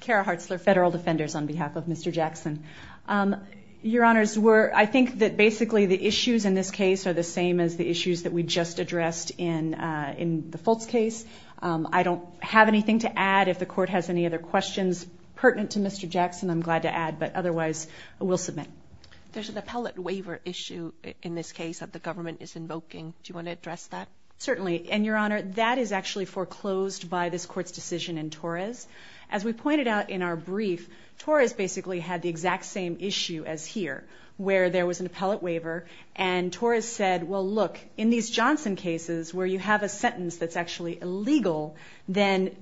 Kara Hartzler, Federal Defenders, on behalf of Mr. Jackson. Your Honors, I think that basically the issues in this case are the same as the issues that we just addressed in the Foltz case. I don't have anything to add. If the Court has any other questions pertinent to Mr. Jackson, I'm glad to add. But otherwise, I will submit. There's an appellate waiver issue in this case that the government is invoking. Do you want to address that? Certainly. And Your Honor, that is actually foreclosed by this Court's decision in Torres. As we pointed out in our brief, Torres basically had the exact same issue as here, where there was an appellate waiver. And Torres said, well, look, in these Johnson cases where you have a sentence that's actually illegal, then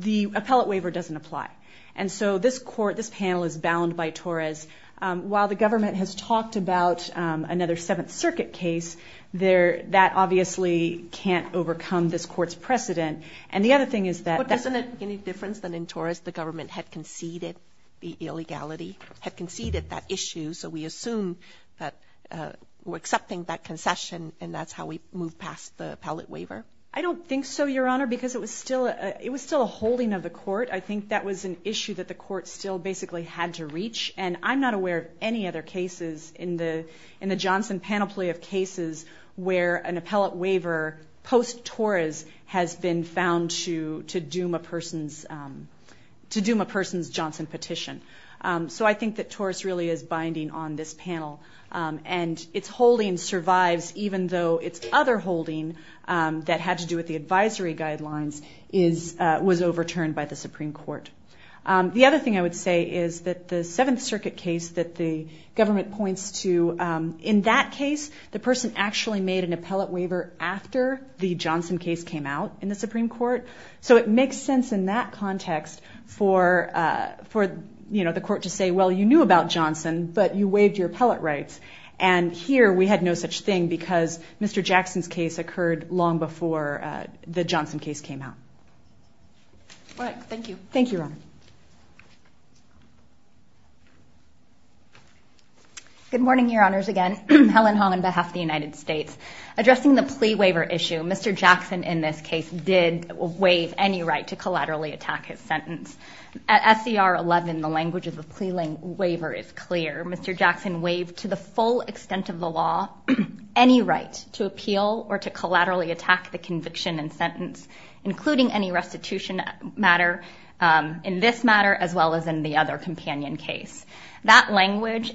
the appellate waiver doesn't apply. And so this Court, this panel, is bound by Torres. While the government has talked about another Seventh Circuit case, that obviously can't overcome this Court's precedent. And the other thing is that- But isn't it any different than in Torres, the government had conceded the illegality, had conceded that issue, so we assume that we're accepting that concession and that's how we move past the appellate waiver? I don't think so, Your Honor, because it was still a holding of the Court. I think that was an issue that the Court still basically had to reach. And I'm not aware of any other cases in the Johnson panoply of cases where an appellate waiver, post-Torres, has been found to doom a person's Johnson petition. So I think that Torres really is binding on this panel. And its holding survives even though its other holding that had to do with the advisory guidelines was overturned by the Supreme Court. The other thing I would say is that the Seventh Circuit case that the government points to, in that case, the person actually made an appellate waiver after the Johnson case came out in the Supreme Court. So it makes sense in that context for the Court to say, well, you knew about Johnson, but you waived your appellate rights. And here we had no such thing because Mr. Jackson's case occurred long before the Johnson case came out. All right. Thank you. Thank you, Your Honor. Good morning, Your Honors. Again, Helen Hong on behalf of the United States. Addressing the plea waiver issue, Mr. Jackson, in this case, did waive any right to collaterally attack his sentence. At SCR 11, the language of the plea waiver is clear. Mr. Jackson waived, to the full extent of the law, any right to appeal or to collaterally attack the conviction and sentence, including any restitution matter in this matter as well as in the other companion case. That language,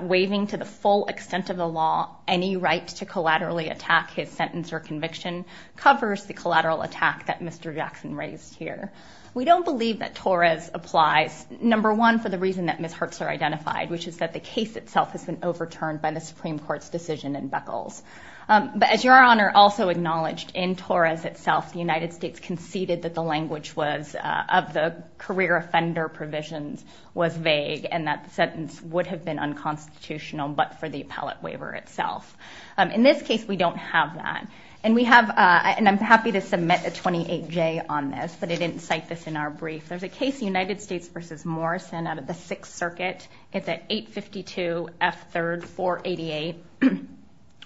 waiving to the full extent of the law any right to collaterally attack his sentence or conviction, covers the collateral attack that Mr. Jackson raised here. We don't believe that Torres applies, number one, for the reason that Ms. Hertzler identified, which is that the case itself has been overturned by the Supreme Court's decision in Beckles. But as Your Honor also acknowledged, in Torres itself, the United States conceded that the language was, of the career offender provisions, was vague and that the sentence would have been unconstitutional, but for the appellate waiver itself. In this case, we don't have that. And we have, and I'm happy to submit a 28-J on this, but I didn't cite this in our brief. There's a case, United States v. Morrison, out of the Sixth Circuit. It's at 852 F. 3rd, 488,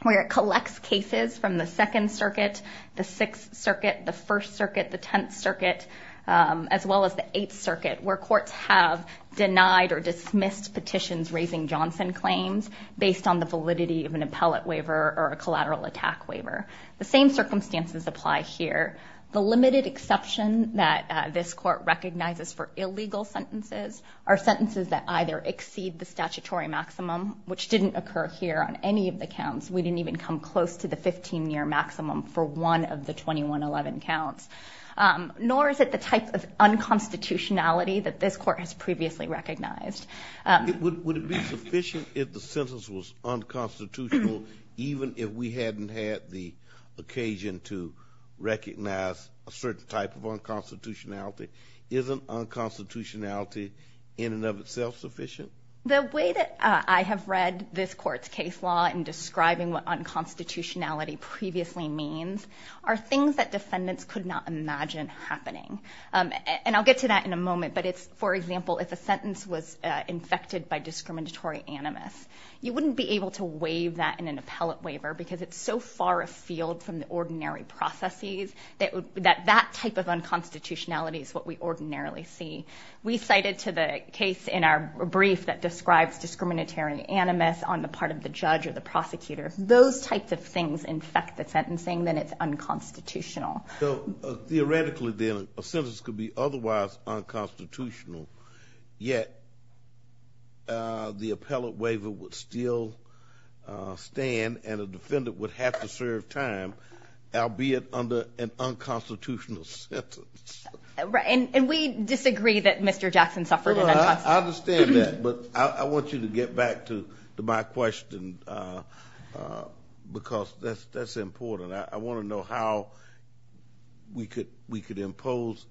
where it collects cases from the Second Circuit, the Sixth Circuit, the First Circuit, the Tenth Circuit, as well as the Eighth Circuit, where courts have denied or dismissed petitions raising Johnson claims based on the validity of an appellate waiver or a collateral attack waiver. The same circumstances apply here. The limited exception that this court recognizes for illegal sentences are sentences that either exceed the statutory maximum, which didn't occur here on any of the counts. We didn't even come close to the 15-year maximum for one of the 2111 counts. Nor is it the type of unconstitutionality that this court has previously recognized. Would it be sufficient if the sentence was unconstitutional, even if we hadn't had the occasion to recognize a certain type of unconstitutionality? Isn't unconstitutionality in and of itself sufficient? The way that I have read this court's case law in describing what unconstitutionality previously means are things that defendants could not imagine happening. And I'll get to that in a moment, but it's, for example, if a sentence was infected by discriminatory animus, you wouldn't be able to waive that in an appellate waiver because it's so far afield from the ordinary processes that that type of unconstitutionality is what we ordinarily see. We cite it to the case in our brief that describes discriminatory animus on the part of the judge or the prosecutor. Those types of things infect the sentencing, then it's unconstitutional. So theoretically, then, a sentence could be otherwise unconstitutional, yet the appellate waiver would still stand and a defendant would have to serve time, albeit under an unconstitutional sentence. And we disagree that Mr. Jackson suffered an unconstitutional sentence. I understand that, but I want you to get back to my question because that's important. I want to know how we could impose,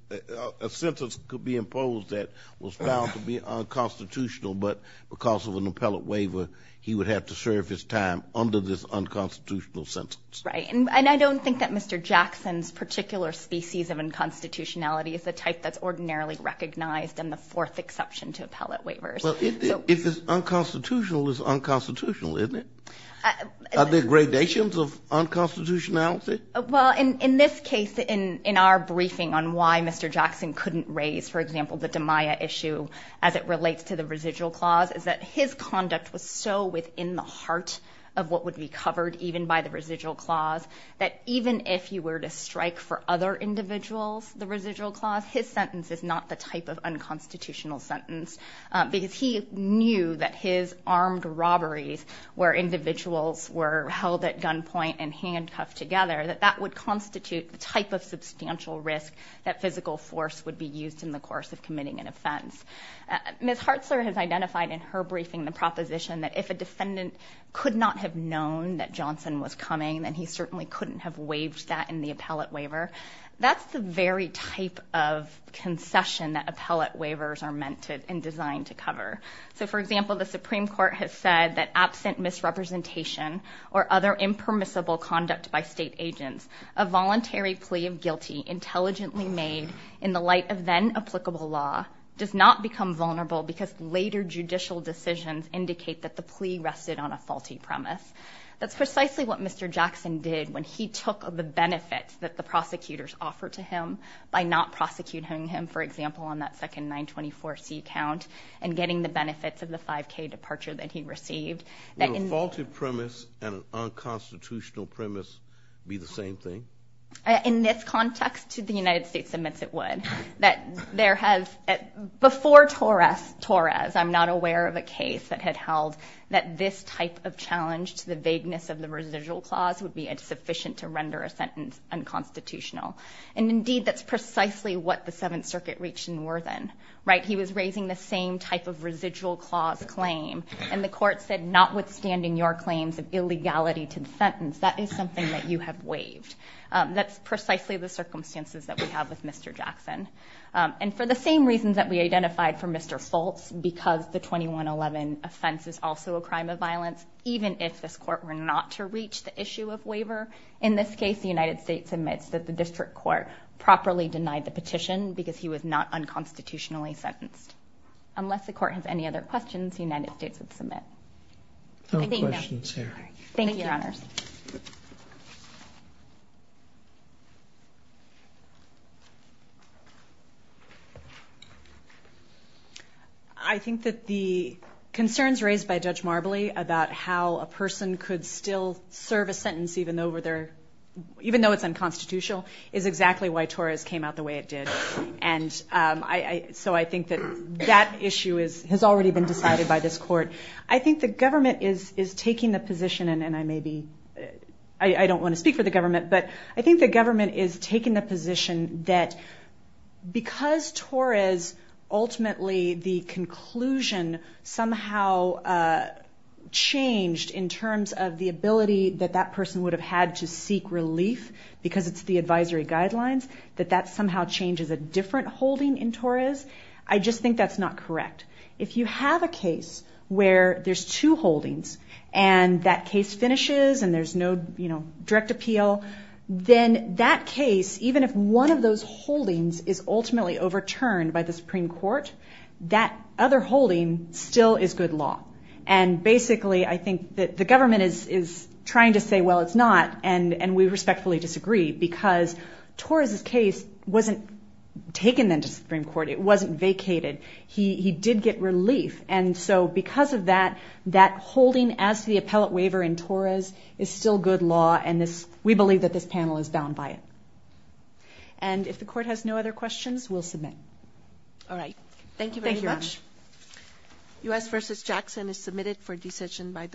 a sentence could be imposed that was found to be unconstitutional, but because of an appellate waiver, he would have to serve his time under this unconstitutional sentence. Right. And I don't think that Mr. Jackson's particular species of unconstitutionality is the type that's ordinarily recognized in the fourth exception to appellate waivers. Well, if it's unconstitutional, it's unconstitutional, isn't it? Are there gradations of unconstitutionality? Well, in this case, in our briefing on why Mr. Jackson couldn't raise, for example, the DiMaia issue as it relates to the residual clause, is that his conduct was so within the heart of what would be covered even by the residual clause that even if you were to strike for other individuals, the residual clause, his sentence is not the type of unconstitutional sentence because he knew that his armed robberies where individuals were held at gunpoint and handcuffed together, that that would constitute the type of substantial risk that physical force would be used in the course of committing an offense. Ms. Hartzler has identified in her briefing the proposition that if a defendant could not have known that Johnson was coming, then he certainly couldn't have waived that in the appellate waiver. That's the very type of concession that appellate waivers are meant to and designed to cover. So, for example, the Supreme Court has said that absent misrepresentation or other impermissible conduct by state agents, a voluntary plea of guilty intelligently made in the light of then-applicable law does not become vulnerable because later judicial decisions indicate that the plea rested on a faulty premise. That's precisely what Mr. Jackson did when he took the benefits that the prosecutors offered to him by not prosecuting him, for example, on that second 924C count and getting the benefits of the 5K departure that he received. Would a faulty premise and an unconstitutional premise be the same thing? In this context, the United States admits it would. That there has, before Torres, I'm not aware of a case that had held that this type of challenge to the vagueness of the residual clause would be insufficient to render a sentence unconstitutional. And, indeed, that's precisely what the Seventh Circuit reached in Worthen. He was raising the same type of residual clause claim, and the court said notwithstanding your claims of illegality to the sentence, that is something that you have waived. That's precisely the circumstances that we have with Mr. Jackson. And for the same reasons that we identified for Mr. Foltz, because the 2111 offense is also a crime of violence, even if this court were not to reach the issue of waiver, in this case the United States admits that the district court properly denied the petition because he was not unconstitutionally sentenced. No questions here. Thank you, Your Honors. I think that the concerns raised by Judge Marbley about how a person could still serve a sentence even though it's unconstitutional is exactly why Torres came out the way it did. And so I think that that issue has already been decided by this court. I think the government is taking the position, and I don't want to speak for the government, but I think the government is taking the position that because Torres, ultimately the conclusion somehow changed in terms of the ability that that person would have had to seek relief because it's the advisory guidelines, that that somehow changes a different holding in Torres. I just think that's not correct. If you have a case where there's two holdings and that case finishes and there's no direct appeal, then that case, even if one of those holdings is ultimately overturned by the Supreme Court, that other holding still is good law. And basically I think that the government is trying to say, well, it's not, and we respectfully disagree because Torres' case wasn't taken then to the Supreme Court. It wasn't vacated. He did get relief. And so because of that, that holding as the appellate waiver in Torres is still good law, and we believe that this panel is bound by it. And if the court has no other questions, we'll submit. All right. Thank you very much. Thank you, Your Honor.